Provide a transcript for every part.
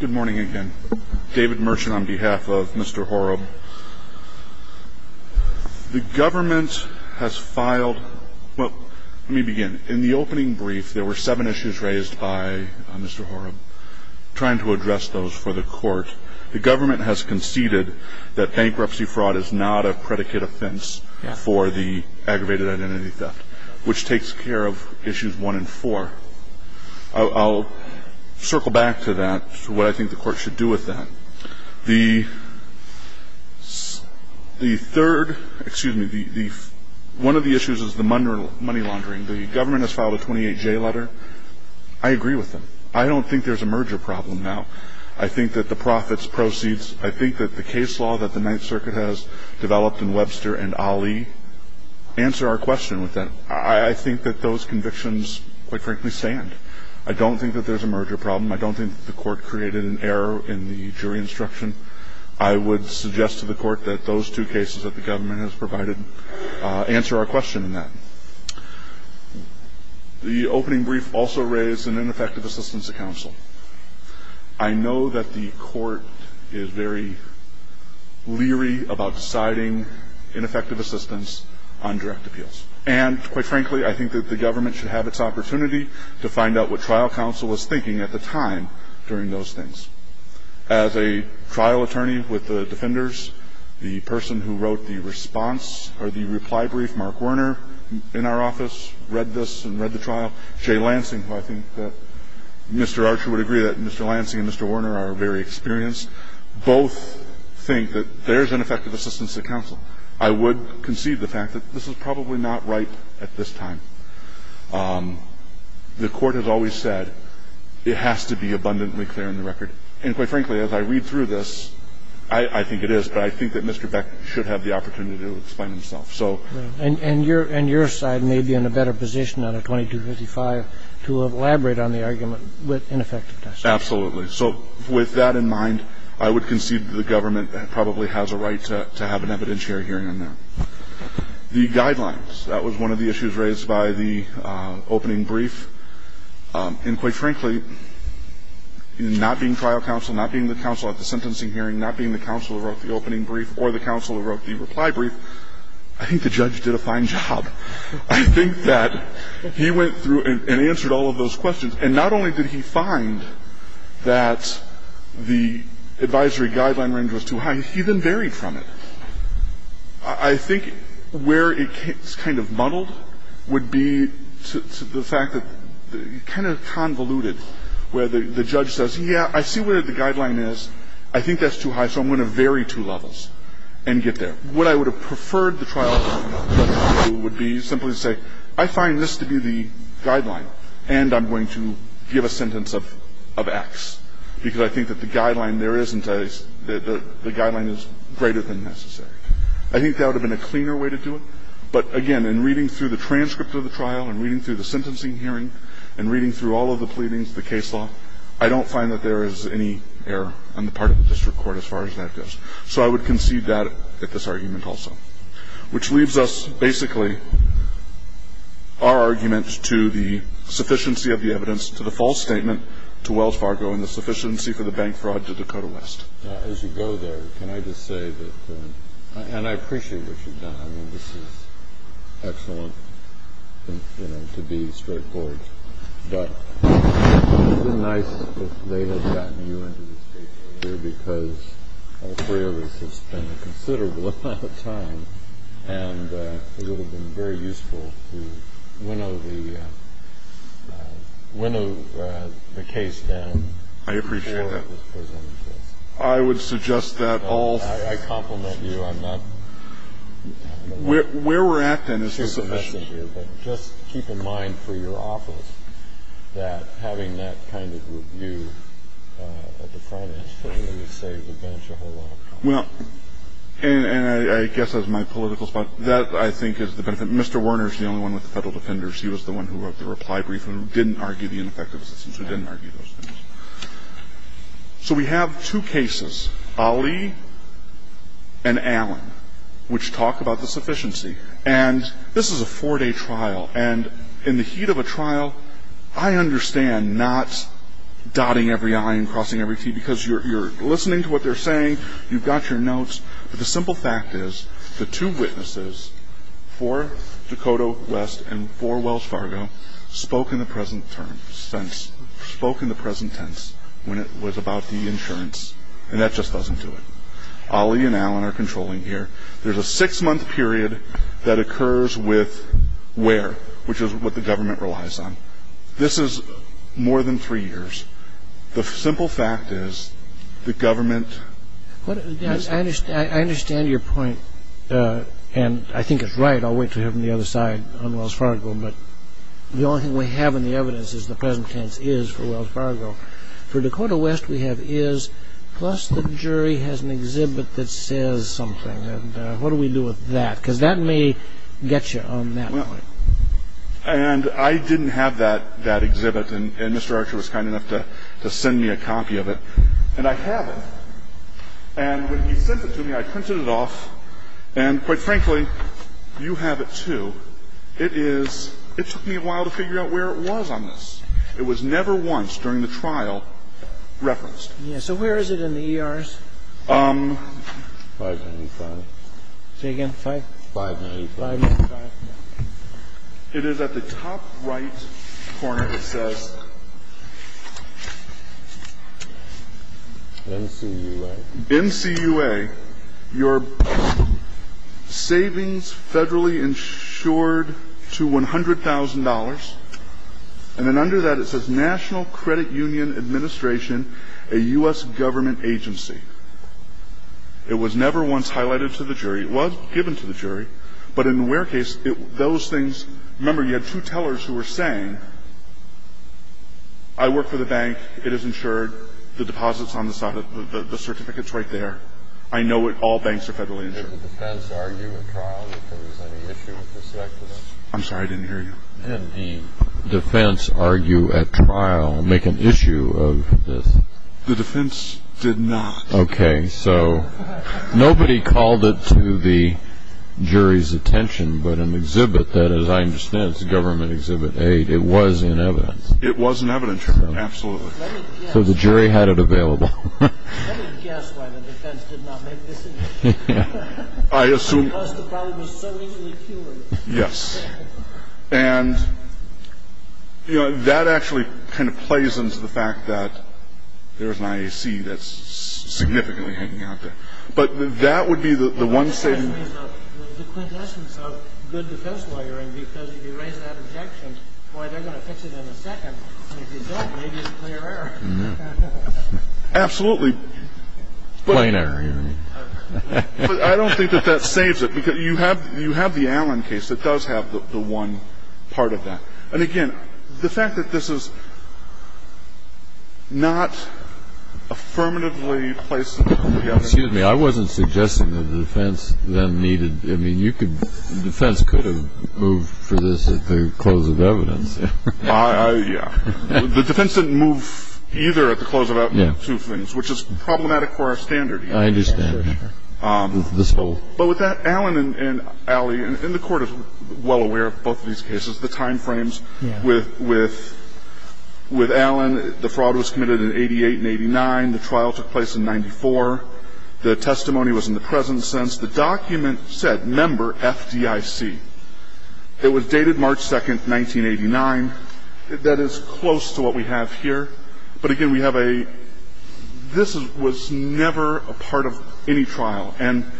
Good morning again. David Merchant on behalf of Mr. Horob. The government has filed, well, let me begin. In the opening brief, there were seven issues raised by Mr. Horob, trying to address those for the court. The government has conceded that bankruptcy fraud is not a predicate offense for the aggravated identity theft, which takes care of issues one and four. I'll circle back to that, to what I think the court should do with that. The third, excuse me, one of the issues is the money laundering. The government has filed a 28-J letter. I agree with them. I don't think there's a merger problem now. I think that the profits, proceeds, I think that the case law that the Ninth Circuit has developed in Webster and Ali answer our question with that. I think that those convictions, quite frankly, stand. I don't think that there's a merger problem. I don't think that the court created an error in the jury instruction. I would suggest to the court that those two cases that the government has provided answer our question in that. The opening brief also raised an ineffective assistance to counsel. I know that the court is very leery about deciding ineffective assistance on direct appeals. And, quite frankly, I think that the government should have its opportunity to find out what trial counsel was thinking at the time during those things. As a trial attorney with the defenders, the person who wrote the response or the reply brief, Mark Werner, in our office, read this and read the trial. Jay Lansing, who I think that Mr. Archer would agree that Mr. Lansing and Mr. Werner are very experienced, both think that there's ineffective assistance to counsel. I would concede the fact that this is probably not right at this time. The court has always said it has to be abundantly clear in the record. And, quite frankly, as I read through this, I think it is, but I think that Mr. Beck should have the opportunity to explain himself. And your side may be in a better position on a 2255 to elaborate on the argument with ineffective assistance. Absolutely. So with that in mind, I would concede that the government probably has a right to have an evidentiary hearing on that. The guidelines. That was one of the issues raised by the opening brief. And, quite frankly, not being trial counsel, not being the counsel at the sentencing hearing, not being the counsel who wrote the opening brief or the counsel who wrote the reply brief, I think the judge did a fine job. I think that he went through and answered all of those questions. And not only did he find that the advisory guideline range was too high, he then varied from it. I think where it's kind of muddled would be to the fact that kind of convoluted, where the judge says, yeah, I see where the guideline is. I think that's too high, so I'm going to vary two levels and get there. What I would have preferred the trial judge to do would be simply to say, I find this to be the guideline, and I'm going to give a sentence of X, because I think that the guideline there isn't a – the guideline is greater than necessary. I think that would have been a cleaner way to do it. But, again, in reading through the transcript of the trial and reading through the sentencing hearing and reading through all of the pleadings, the case law, I don't find that there is any error on the part of the district court as far as that goes. So I would concede that at this argument also. Which leaves us, basically, our argument to the sufficiency of the evidence, to the false statement, to Wells Fargo, and the sufficiency for the bank fraud to Dakota West. As you go there, can I just say that – and I appreciate what you've done. I mean, this is excellent, you know, to be straightforward. But it would have been nice if they had gotten you into this case earlier, because all three of us have spent a considerable amount of time, and it would have been very useful to winnow the – winnow the case down before it was presented to us. I would suggest that all – I compliment you. I'm not – Where we're at, then, is the sufficiency. Just keep in mind for your office that having that kind of view at the front end certainly would save the bench a whole lot of time. Well, and I guess as my political spot, that, I think, is the benefit. Mr. Werner is the only one with the Federal Defenders. He was the one who wrote the reply brief and who didn't argue the ineffective assistance, who didn't argue those things. So we have two cases, Ali and Allen, which talk about the sufficiency. And this is a four-day trial. And in the heat of a trial, I understand not dotting every i and crossing every t because you're listening to what they're saying, you've got your notes. But the simple fact is the two witnesses, four, Dakota West, and four, Wells Fargo, spoke in the present tense when it was about the insurance, and that just doesn't do it. Ali and Allen are controlling here. There's a six-month period that occurs with where, which is what the government relies on. This is more than three years. The simple fact is the government – I understand your point, and I think it's right. I'll wait to hear from the other side on Wells Fargo. But the only thing we have in the evidence is the present tense is for Wells Fargo. For Dakota West, we have is, plus the jury has an exhibit that says something. And what do we do with that? Because that may get you on that one. And I didn't have that exhibit, and Mr. Archer was kind enough to send me a copy of it. And I have it. And when he sent it to me, I printed it off. And quite frankly, you have it, too. It is – it took me a while to figure out where it was on this. It was never once during the trial referenced. Yes. So where is it in the ERs? 595. Say again? 595. 595. It is at the top right corner. It says NCUA. NCUA, your savings federally insured to $100,000. And then under that, it says National Credit Union Administration, a U.S. government agency. It was never once highlighted to the jury. It was given to the jury. But in the Ware case, those things – remember, you had two tellers who were saying, I work for the bank. It is insured. The deposit's on the side of – the certificate's right there. I know it. All banks are federally insured. Did the defense argue at trial if there was any issue with respect to this? I'm sorry. I didn't hear you. Did the defense argue at trial, make an issue of this? The defense did not. Okay. So nobody called it to the jury's attention, but an exhibit that, as I understand it, was a government exhibit. A, it was in evidence. It was in evidence. Absolutely. So the jury had it available. Let me guess why the defense did not make this issue. I assume – Because the problem was so easily cured. Yes. And, you know, that actually kind of plays into the fact that there's an IAC that's significantly hanging out there. But that would be the one saving – It's going to be a good defense. It's going to be a good defense. It's going to be a good defense. And it's going to be a good defense. And the fact that the defense has made that objection, why they're going to fix it in a second, the result may be a clear error. Absolutely. Plain error, you mean. I don't think that that saves it. You have the Allen case that does have the one part of that. And again, the fact that this is not affirmatively placed in the public opinion – Excuse me. The defense could have moved for this at the close of evidence. Yeah. The defense didn't move either at the close of two things, which is problematic for our standard. I understand. But with that, Allen and Alley, and the Court is well aware of both of these cases, the time frames with Allen, the fraud was committed in 88 and 89, the trial took place in 94, the testimony was in the present sense. The document said member FDIC. It was dated March 2nd, 1989. That is close to what we have here. But again, we have a – this was never a part of any trial. And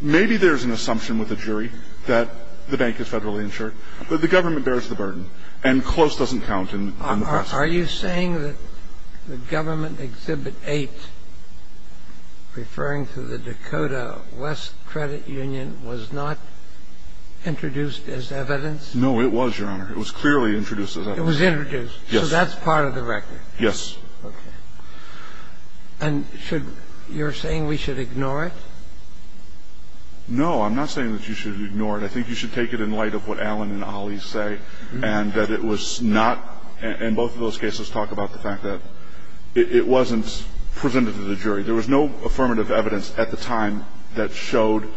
maybe there's an assumption with the jury that the bank is federally insured, but the government bears the burden. And close doesn't count in the process. Are you saying that the government Exhibit 8, referring to the Dakota West Credit Union, was not introduced as evidence? No, it was, Your Honor. It was clearly introduced as evidence. It was introduced? Yes. So that's part of the record? Yes. Okay. And should – you're saying we should ignore it? No, I'm not saying that you should ignore it. I think you should take it in light of what Allen and Alley say, and that it was not – and both of those cases talk about the fact that it wasn't presented to the jury. There was no affirmative evidence at the time that showed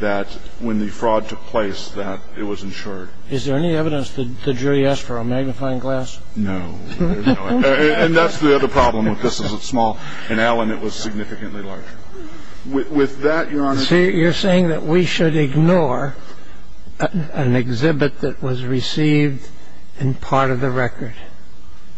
that when the fraud took place, that it was insured. Is there any evidence that the jury asked for a magnifying glass? No. And that's the other problem with this, is it's small. In Allen, it was significantly larger. With that, Your Honor – You're saying that we should ignore an exhibit that was received and part of the record?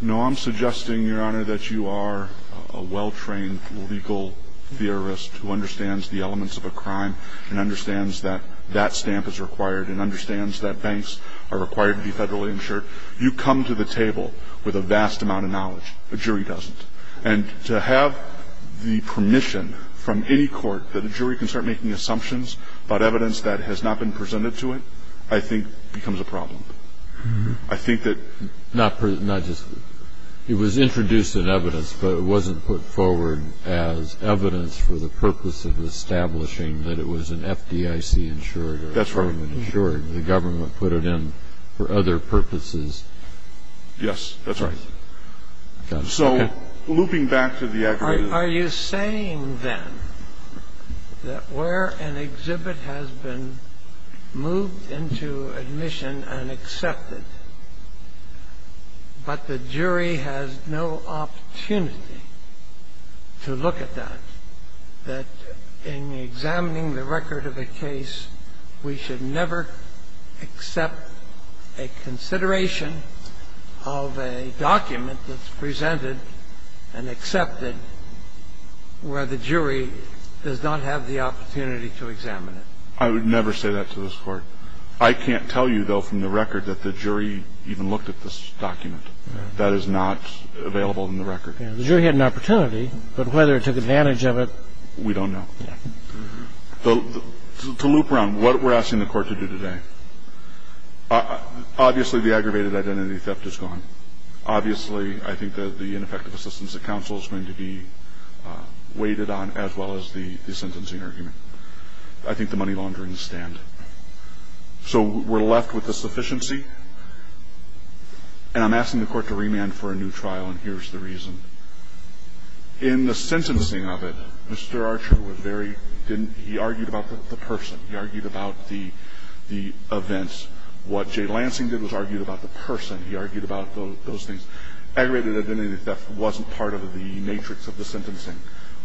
No, I'm suggesting, Your Honor, that you are a well-trained legal theorist who understands the elements of a crime and understands that that stamp is required and understands that banks are required to be federally insured. You come to the table with a vast amount of knowledge. A jury doesn't. And to have the permission from any court that a jury can start making assumptions about evidence that has not been presented to it, I think, becomes a problem. I think that – Not just – it was introduced in evidence, but it wasn't put forward as evidence for the purpose of establishing that it was an FDIC-insured or a government-insured. That's right. The government put it in for other purposes. Yes, that's right. So, looping back to the aggravated – Are you saying, then, that where an exhibit has been moved into admission and accepted, but the jury has no opportunity to look at that, that in examining the record of a case, we should never accept a consideration of a document that's presented and accepted where the jury does not have the opportunity to examine it? I would never say that to this Court. I can't tell you, though, from the record that the jury even looked at this document. That is not available in the record. The jury had an opportunity, but whether it took advantage of it, we don't know. To loop around, what we're asking the Court to do today, obviously, the aggravated identity theft is gone. Obviously, I think that the ineffective assistance at counsel is going to be weighted on, as well as the sentencing argument. I think the money laundering is stand. So we're left with a sufficiency, and I'm asking the Court to remand for a new trial, and here's the reason. In the sentencing of it, Mr. Archer was very, he argued about the person. He argued about the events. What Jay Lansing did was argue about the person. He argued about those things. Aggravated identity theft wasn't part of the matrix of the sentencing.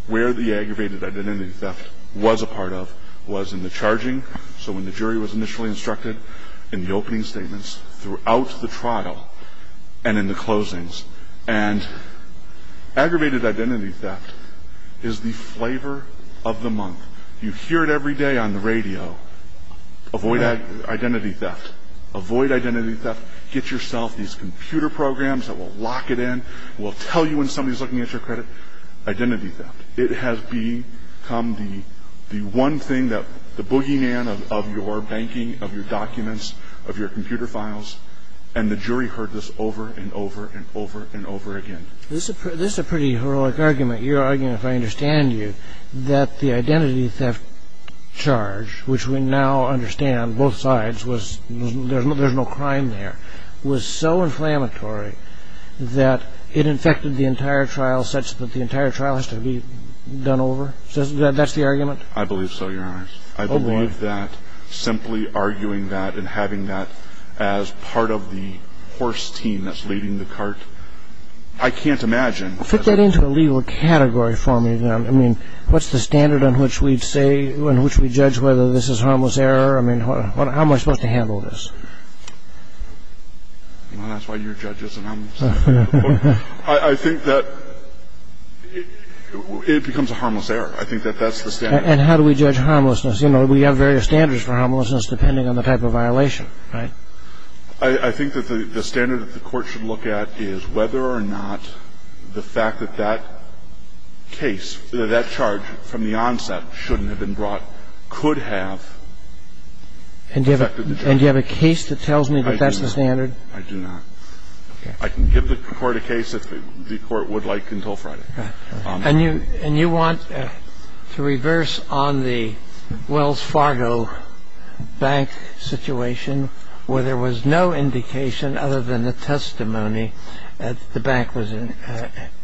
Where the aggravated identity theft was a part of was in the charging, so when the in the closings, and aggravated identity theft is the flavor of the month. You hear it every day on the radio. Avoid identity theft. Avoid identity theft. Get yourself these computer programs that will lock it in. It will tell you when somebody's looking at your credit. Identity theft. It has become the one thing that the boogeyman of your banking, of your documents, of your I've heard this over and over and over and over again. This is a pretty heroic argument. You're arguing, if I understand you, that the identity theft charge, which we now understand, both sides, there's no crime there, was so inflammatory that it infected the entire trial such that the entire trial has to be done over? That's the argument? I believe so, Your Honor. Oh, boy. Simply arguing that and having that as part of the horse team that's leading the cart. I can't imagine. Put that into a legal category for me, then. I mean, what's the standard on which we judge whether this is harmless error? I mean, how am I supposed to handle this? Well, that's why you're a judge, isn't it? I think that it becomes a harmless error. I think that that's the standard. And how do we judge harmlessness? You know, we have various standards for harmlessness depending on the type of violation, right? I think that the standard that the court should look at is whether or not the fact that that case, that charge from the onset shouldn't have been brought could have affected the judge. And do you have a case that tells me that that's the standard? I do not. I can give the court a case if the court would like until Friday. And you want to reverse on the Wells Fargo bank situation where there was no indication other than the testimony that the bank was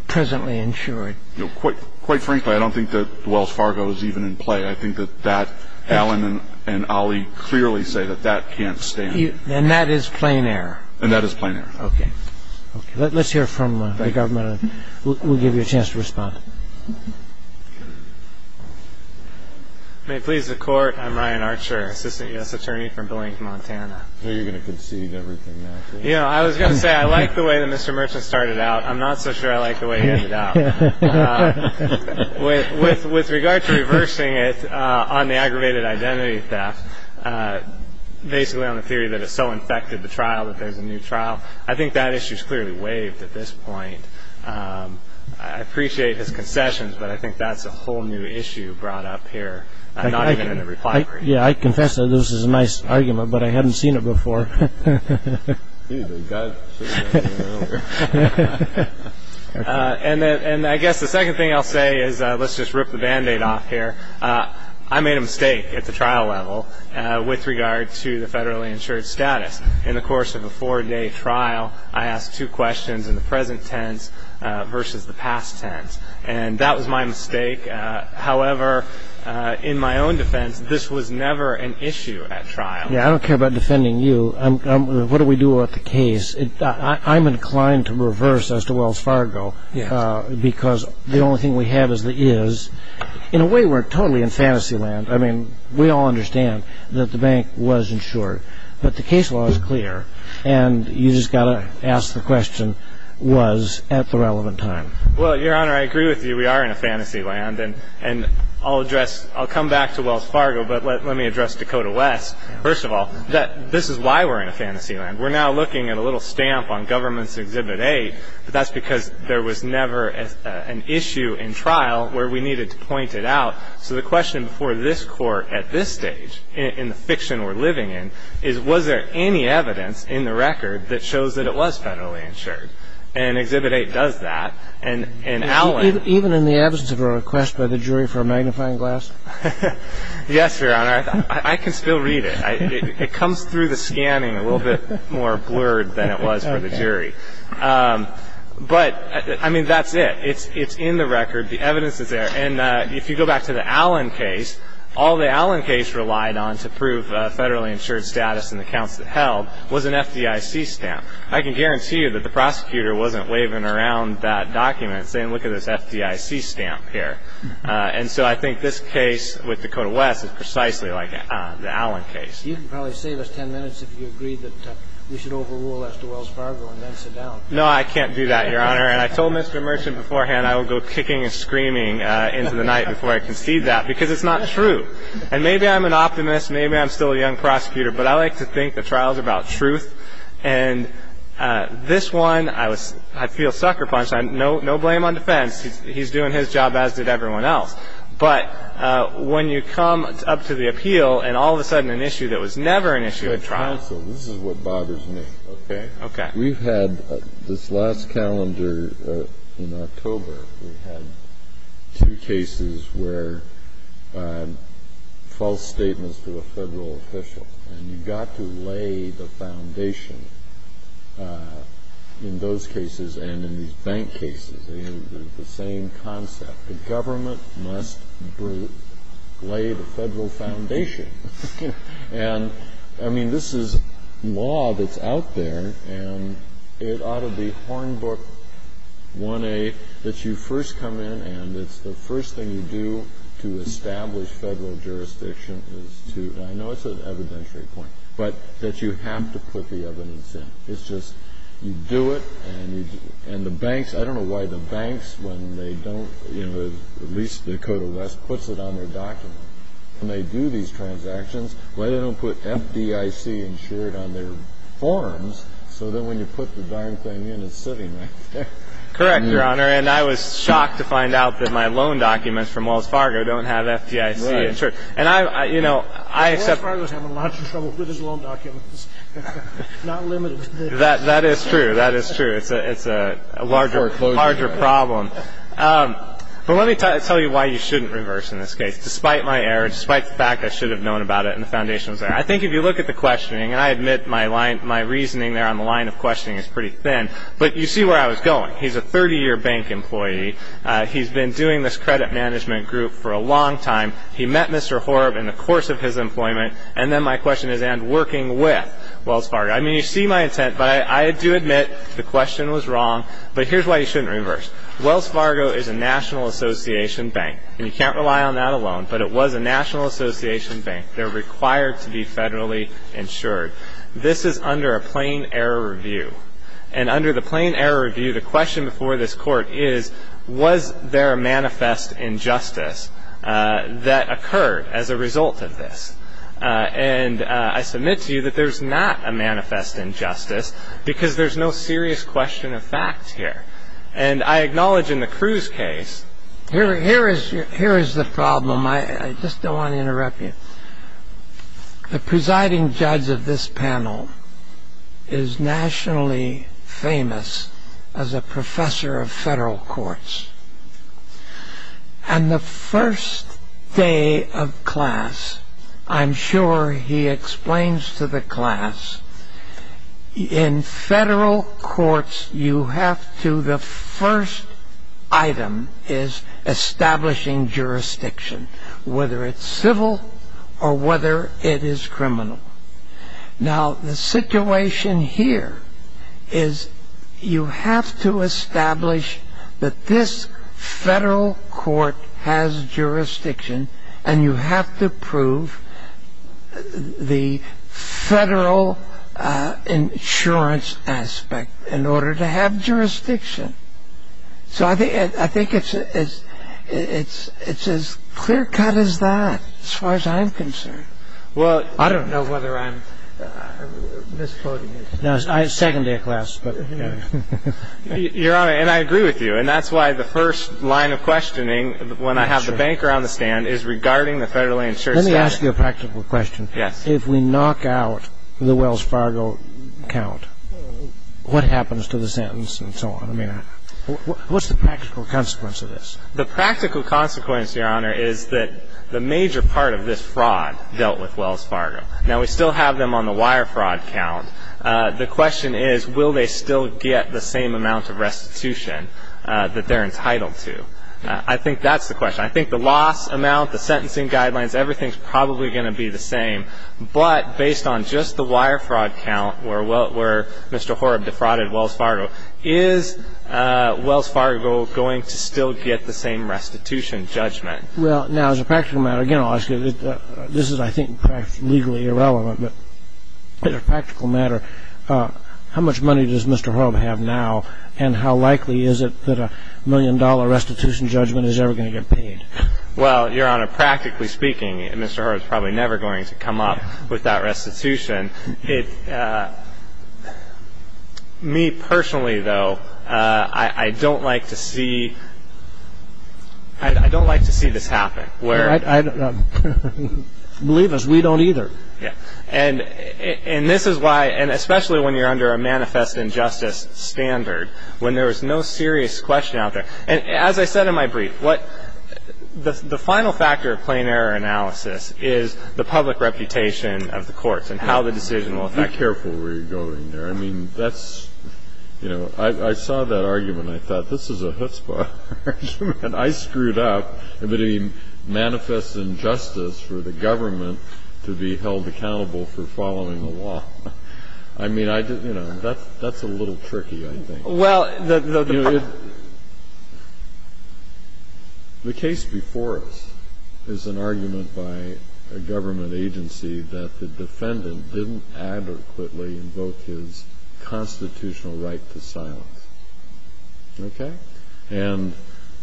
presently insured? Quite frankly, I don't think that Wells Fargo is even in play. I think that Alan and Ollie clearly say that that can't stand. And that is plain error? And that is plain error. Okay. Let's hear from the government. We'll give you a chance to respond. May it please the court. I'm Ryan Archer, assistant U.S. attorney from Blank, Montana. So you're going to concede everything now? You know, I was going to say I like the way that Mr. Merchant started out. I'm not so sure I like the way he ended up. With regard to reversing it on the aggravated identity theft, basically on the theory that it so infected the trial that there's a new trial, I think that issue is clearly waived at this point. I appreciate his concessions, but I think that's a whole new issue brought up here, not even in the reply brief. Yeah, I confess that this is a nice argument, but I hadn't seen it before. And I guess the second thing I'll say is let's just rip the band-aid off here. I made a mistake at the trial level with regard to the federally insured status. In the course of a four-day trial, I asked two questions in the present tense versus the past tense, and that was my mistake. However, in my own defense, this was never an issue at trial. Yeah, I don't care about defending you. What do we do about the case? I'm inclined to reverse as to Wells Fargo because the only thing we have is the is. In a way, we're totally in fantasy land. I mean, we all understand that the bank was insured, but the case law is clear, and you just got to ask the question, was at the relevant time. Well, Your Honor, I agree with you. We are in a fantasy land, and I'll come back to Wells Fargo, but let me address Dakota West first of all. This is why we're in a fantasy land. We're now looking at a little stamp on Government's Exhibit A, but that's because there was never an issue in trial where we needed to point it out. So the question before this Court at this stage in the fiction we're living in is, was there any evidence in the record that shows that it was federally insured? And Exhibit A does that, and Allen ---- Even in the absence of a request by the jury for a magnifying glass? Yes, Your Honor. I can still read it. It comes through the scanning a little bit more blurred than it was for the jury. But, I mean, that's it. It's in the record. The evidence is there. And if you go back to the Allen case, all the Allen case relied on to prove federally insured status in the counts that held was an FDIC stamp. I can guarantee you that the prosecutor wasn't waving around that document saying, look at this FDIC stamp here. And so I think this case with Dakota West is precisely like the Allen case. You can probably save us ten minutes if you agree that we should overrule Esther Wells Fargo and then sit down. No, I can't do that, Your Honor. And I told Mr. Merchant beforehand I will go kicking and screaming into the night before I concede that because it's not true. And maybe I'm an optimist. Maybe I'm still a young prosecutor. But I like to think the trial is about truth. And this one I feel sucker punched. No blame on defense. He's doing his job as did everyone else. But when you come up to the appeal and all of a sudden an issue that was never an issue at trial. Counsel, this is what bothers me, okay? Okay. We've had this last calendar in October. We had two cases where false statements to a federal official. And you've got to lay the foundation in those cases and in these bank cases. The same concept. The government must lay the federal foundation. And, I mean, this is law that's out there. And it ought to be Hornbook 1A that you first come in and it's the first thing you do to establish federal jurisdiction. I know it's an evidentiary point. But that you have to put the evidence in. It's just you do it and you do it. And the banks, I don't know why the banks when they don't, you know, at least the Dakota West puts it on their document. When they do these transactions, why they don't put FDIC insured on their forms so that when you put the darn thing in it's sitting right there. Correct, Your Honor. And I was shocked to find out that my loan documents from Wells Fargo don't have FDIC insured. And I, you know, I accept. Wells Fargo's having lots of trouble with his loan documents. Not limited to this. That is true. That is true. It's a larger problem. But let me tell you why you shouldn't reverse in this case. Despite my error, despite the fact I should have known about it and the foundation was there. I think if you look at the questioning, and I admit my reasoning there on the line of questioning is pretty thin. But you see where I was going. He's a 30-year bank employee. He's been doing this credit management group for a long time. He met Mr. Horb in the course of his employment. And then my question is, and working with Wells Fargo. I mean, you see my intent, but I do admit the question was wrong. But here's why you shouldn't reverse. Wells Fargo is a national association bank. And you can't rely on that alone. But it was a national association bank. They're required to be federally insured. This is under a plain error review. And under the plain error review, the question before this court is, was there a manifest injustice that occurred as a result of this? And I submit to you that there's not a manifest injustice because there's no serious question of fact here. And I acknowledge in the Cruz case. Here is the problem. I just don't want to interrupt you. The presiding judge of this panel is nationally famous as a professor of federal courts. And the first day of class, I'm sure he explains to the class, in federal courts you have to, the first item is establishing jurisdiction, whether it's civil or whether it is criminal. Now, the situation here is you have to establish that this federal court has jurisdiction. And you have to prove the federal insurance aspect in order to have jurisdiction. So I think it's as clear cut as that as far as I'm concerned. I don't know whether I'm misquoting you. No, it's second day of class. Your Honor, and I agree with you. And that's why the first line of questioning, when I have the banker on the stand, is regarding the federally insured side. Let me ask you a practical question. Yes. If we knock out the Wells Fargo account, what happens to the sentence and so on? I mean, what's the practical consequence of this? The practical consequence, Your Honor, is that the major part of this fraud dealt with Wells Fargo. Now, we still have them on the wire fraud count. The question is, will they still get the same amount of restitution that they're entitled to? I think that's the question. I think the loss amount, the sentencing guidelines, everything's probably going to be the same. But based on just the wire fraud count where Mr. Horrib defrauded Wells Fargo, is Wells Fargo going to still get the same restitution judgment? Well, now, as a practical matter, again, I'll ask you, this is, I think, legally irrelevant, but as a practical matter, how much money does Mr. Horrib have now, and how likely is it that a million-dollar restitution judgment is ever going to get paid? Well, Your Honor, practically speaking, Mr. Horrib is probably never going to come up with that restitution. Me, personally, though, I don't like to see this happen. Believe us, we don't either. And this is why, and especially when you're under a manifest injustice standard, when there is no serious question out there, and as I said in my brief, the final factor of plain error analysis is the public reputation of the courts and how the decision will affect them. Be careful where you're going there. I mean, that's, you know, I saw that argument and I thought, this is a chutzpah argument. I screwed up, but a manifest injustice for the government to be held accountable for following the law. I mean, I just, you know, that's a little tricky, I think. Well, the problem is the case before us is an argument by a government agency that the defendant didn't adequately invoke his constitutional right to silence. Okay? And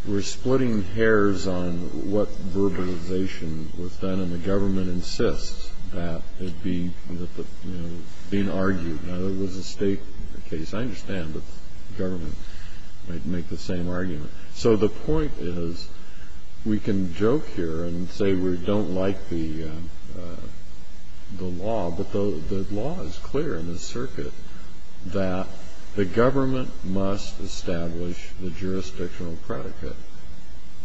we're splitting hairs on what verbalization was done, and the government insists that it be, you know, being argued. Now, that was a state case. I understand that the government might make the same argument. So the point is we can joke here and say we don't like the law, but the law is clear in this circuit that the government must establish the jurisdictional predicate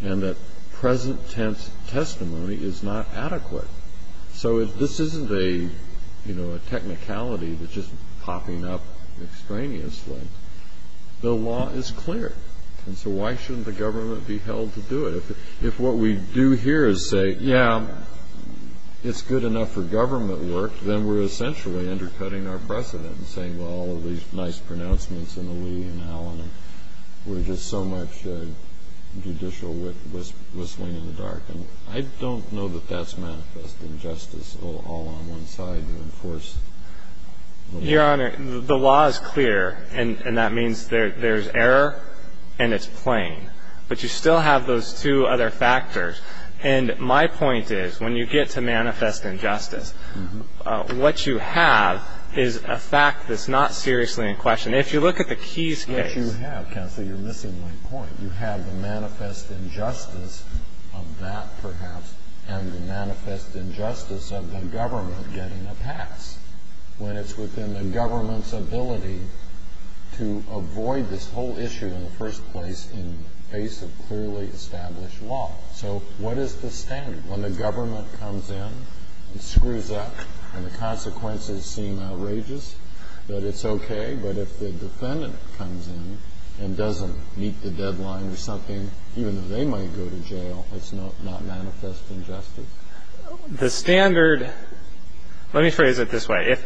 and that present-tense testimony is not adequate. So this isn't a, you know, a technicality that's just popping up extraneously. The law is clear, and so why shouldn't the government be held to do it? If what we do here is say, yeah, it's good enough for government work, then we're essentially undercutting our precedent and saying, well, all of these nice pronouncements in the Lee and Allen were just so much judicial whistling in the dark. And I don't know that that's manifest injustice all on one side to enforce. Your Honor, the law is clear, and that means there's error and it's plain. But you still have those two other factors. And my point is when you get to manifest injustice, what you have is a fact that's not seriously in question. If you look at the Keys case. What you have, counsel, you're missing my point. You have the manifest injustice of that, perhaps, and the manifest injustice of the government getting a pass when it's within the government's ability to avoid this whole issue in the first place in the face of clearly established law. So what is the standard? When the government comes in and screws up and the consequences seem outrageous, that it's okay. But if the defendant comes in and doesn't meet the deadline or something, even though they might go to jail, it's not manifest injustice. The standard, let me phrase it this way.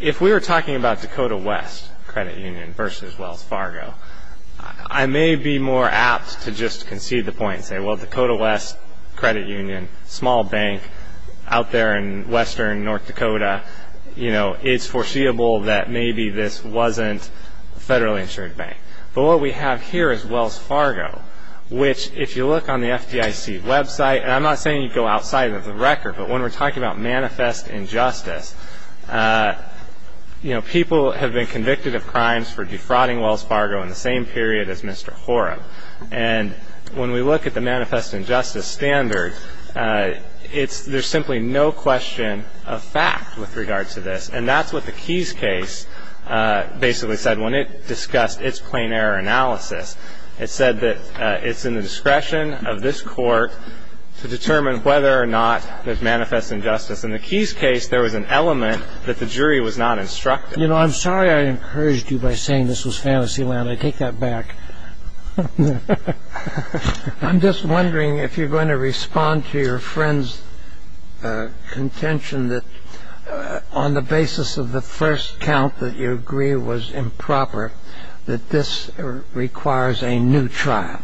If we were talking about Dakota West Credit Union versus Wells Fargo, I may be more apt to just concede the point and say, well, Dakota West Credit Union, small bank out there in western North Dakota, it's foreseeable that maybe this wasn't a federally insured bank. But what we have here is Wells Fargo, which if you look on the FDIC website, and I'm not saying you go outside of the record, but when we're talking about manifest injustice, people have been convicted of crimes for defrauding Wells Fargo in the same period as Mr. Hora. And when we look at the manifest injustice standard, there's simply no question of fact with regard to this. And that's what the Keys case basically said when it discussed its plain error analysis. It said that it's in the discretion of this court to determine whether or not there's manifest injustice. In the Keys case, there was an element that the jury was not instructed. You know, I'm sorry I encouraged you by saying this was fantasy land. I take that back. I'm just wondering if you're going to respond to your friend's contention that on the basis of the first count that you agree was improper, that this requires a new trial.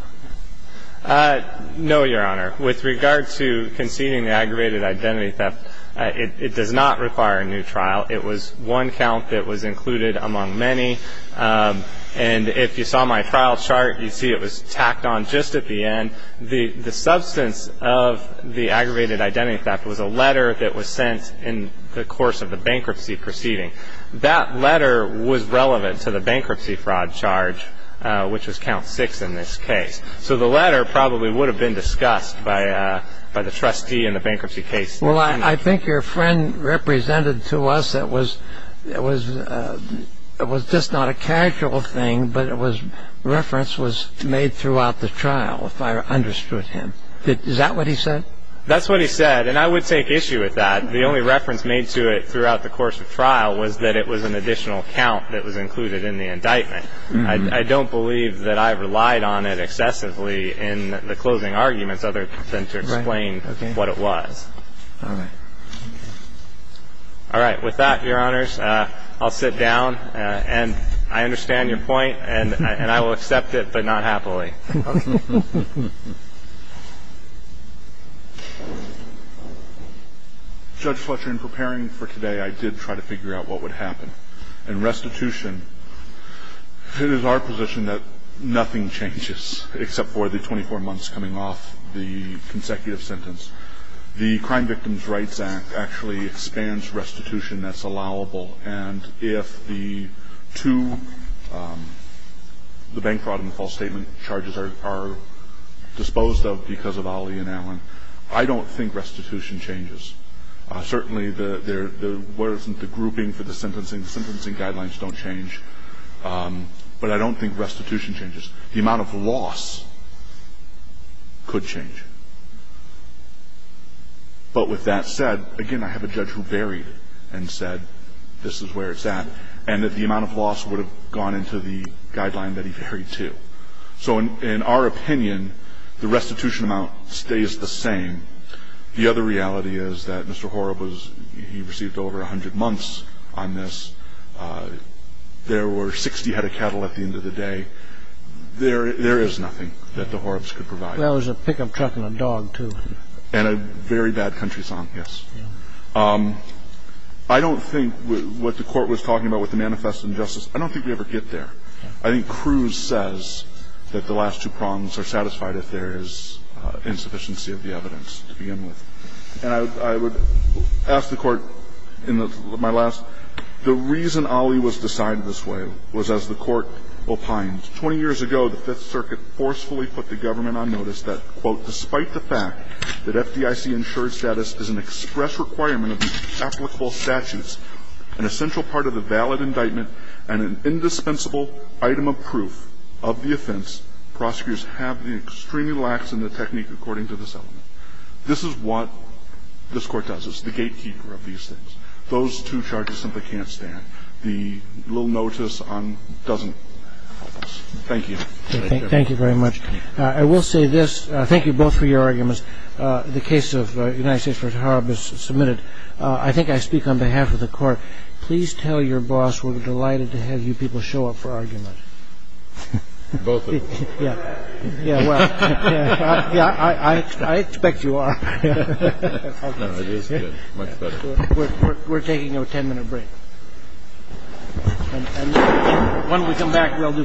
No, Your Honor. With regard to conceding the aggravated identity theft, it does not require a new trial. It was one count that was included among many. And if you saw my trial chart, you'd see it was tacked on just at the end. The substance of the aggravated identity theft was a letter that was sent in the course of the bankruptcy proceeding. That letter was relevant to the bankruptcy fraud charge, which was count six in this case. So the letter probably would have been discussed by the trustee in the bankruptcy case. Well, I think your friend represented to us it was just not a casual thing, but reference was made throughout the trial if I understood him. Is that what he said? That's what he said. And I would take issue with that. The only reference made to it throughout the course of trial was that it was an additional count that was included in the indictment. I don't believe that I relied on it excessively in the closing arguments other than to explain what it was. All right. All right. With that, Your Honors, I'll sit down. And I understand your point, and I will accept it, but not happily. Judge Fletcher, in preparing for today, I did try to figure out what would happen. In restitution, it is our position that nothing changes except for the 24 months coming off the consecutive sentence. The Crime Victims' Rights Act actually expands restitution that's allowable. And if the two, the bank fraud and the false statement charges are disposed of because of Ali and Allen, I don't think restitution changes. Certainly, the grouping for the sentencing, the sentencing guidelines don't change, but I don't think restitution changes. The amount of loss could change. But with that said, again, I have a judge who varied and said this is where it's at and that the amount of loss would have gone into the guideline that he varied to. So in our opinion, the restitution amount stays the same. The other reality is that Mr. Horrup was, he received over 100 months on this. There were 60 head of cattle at the end of the day. There is nothing that the Horrups could provide. There was a pickup truck and a dog, too. And a very bad country song, yes. I don't think what the Court was talking about with the manifest injustice, I don't think we ever get there. I think Cruz says that the last two prongs are satisfied if there is insufficiency of the evidence to begin with. And I would ask the Court in my last, the reason Ali was decided this way was as the Court opined. 20 years ago, the Fifth Circuit forcefully put the government on notice that, quote, despite the fact that FDIC insured status is an express requirement of the applicable statutes, an essential part of the valid indictment and an indispensable item of proof of the offense, prosecutors have been extremely lax in the technique according to this element. This is what this Court does. It's the gatekeeper of these things. Those two charges simply can't stand. The little notice doesn't. Thank you. Thank you very much. I will say this. Thank you both for your arguments. The case of United States v. Horrups is submitted. I think I speak on behalf of the Court. Please tell your boss we're delighted to have you people show up for arguments. Both of us. Yeah. Yeah, well. Yeah, I expect you are. No, it is good. Much better. We're taking a ten-minute break. And when we come back, we'll do case.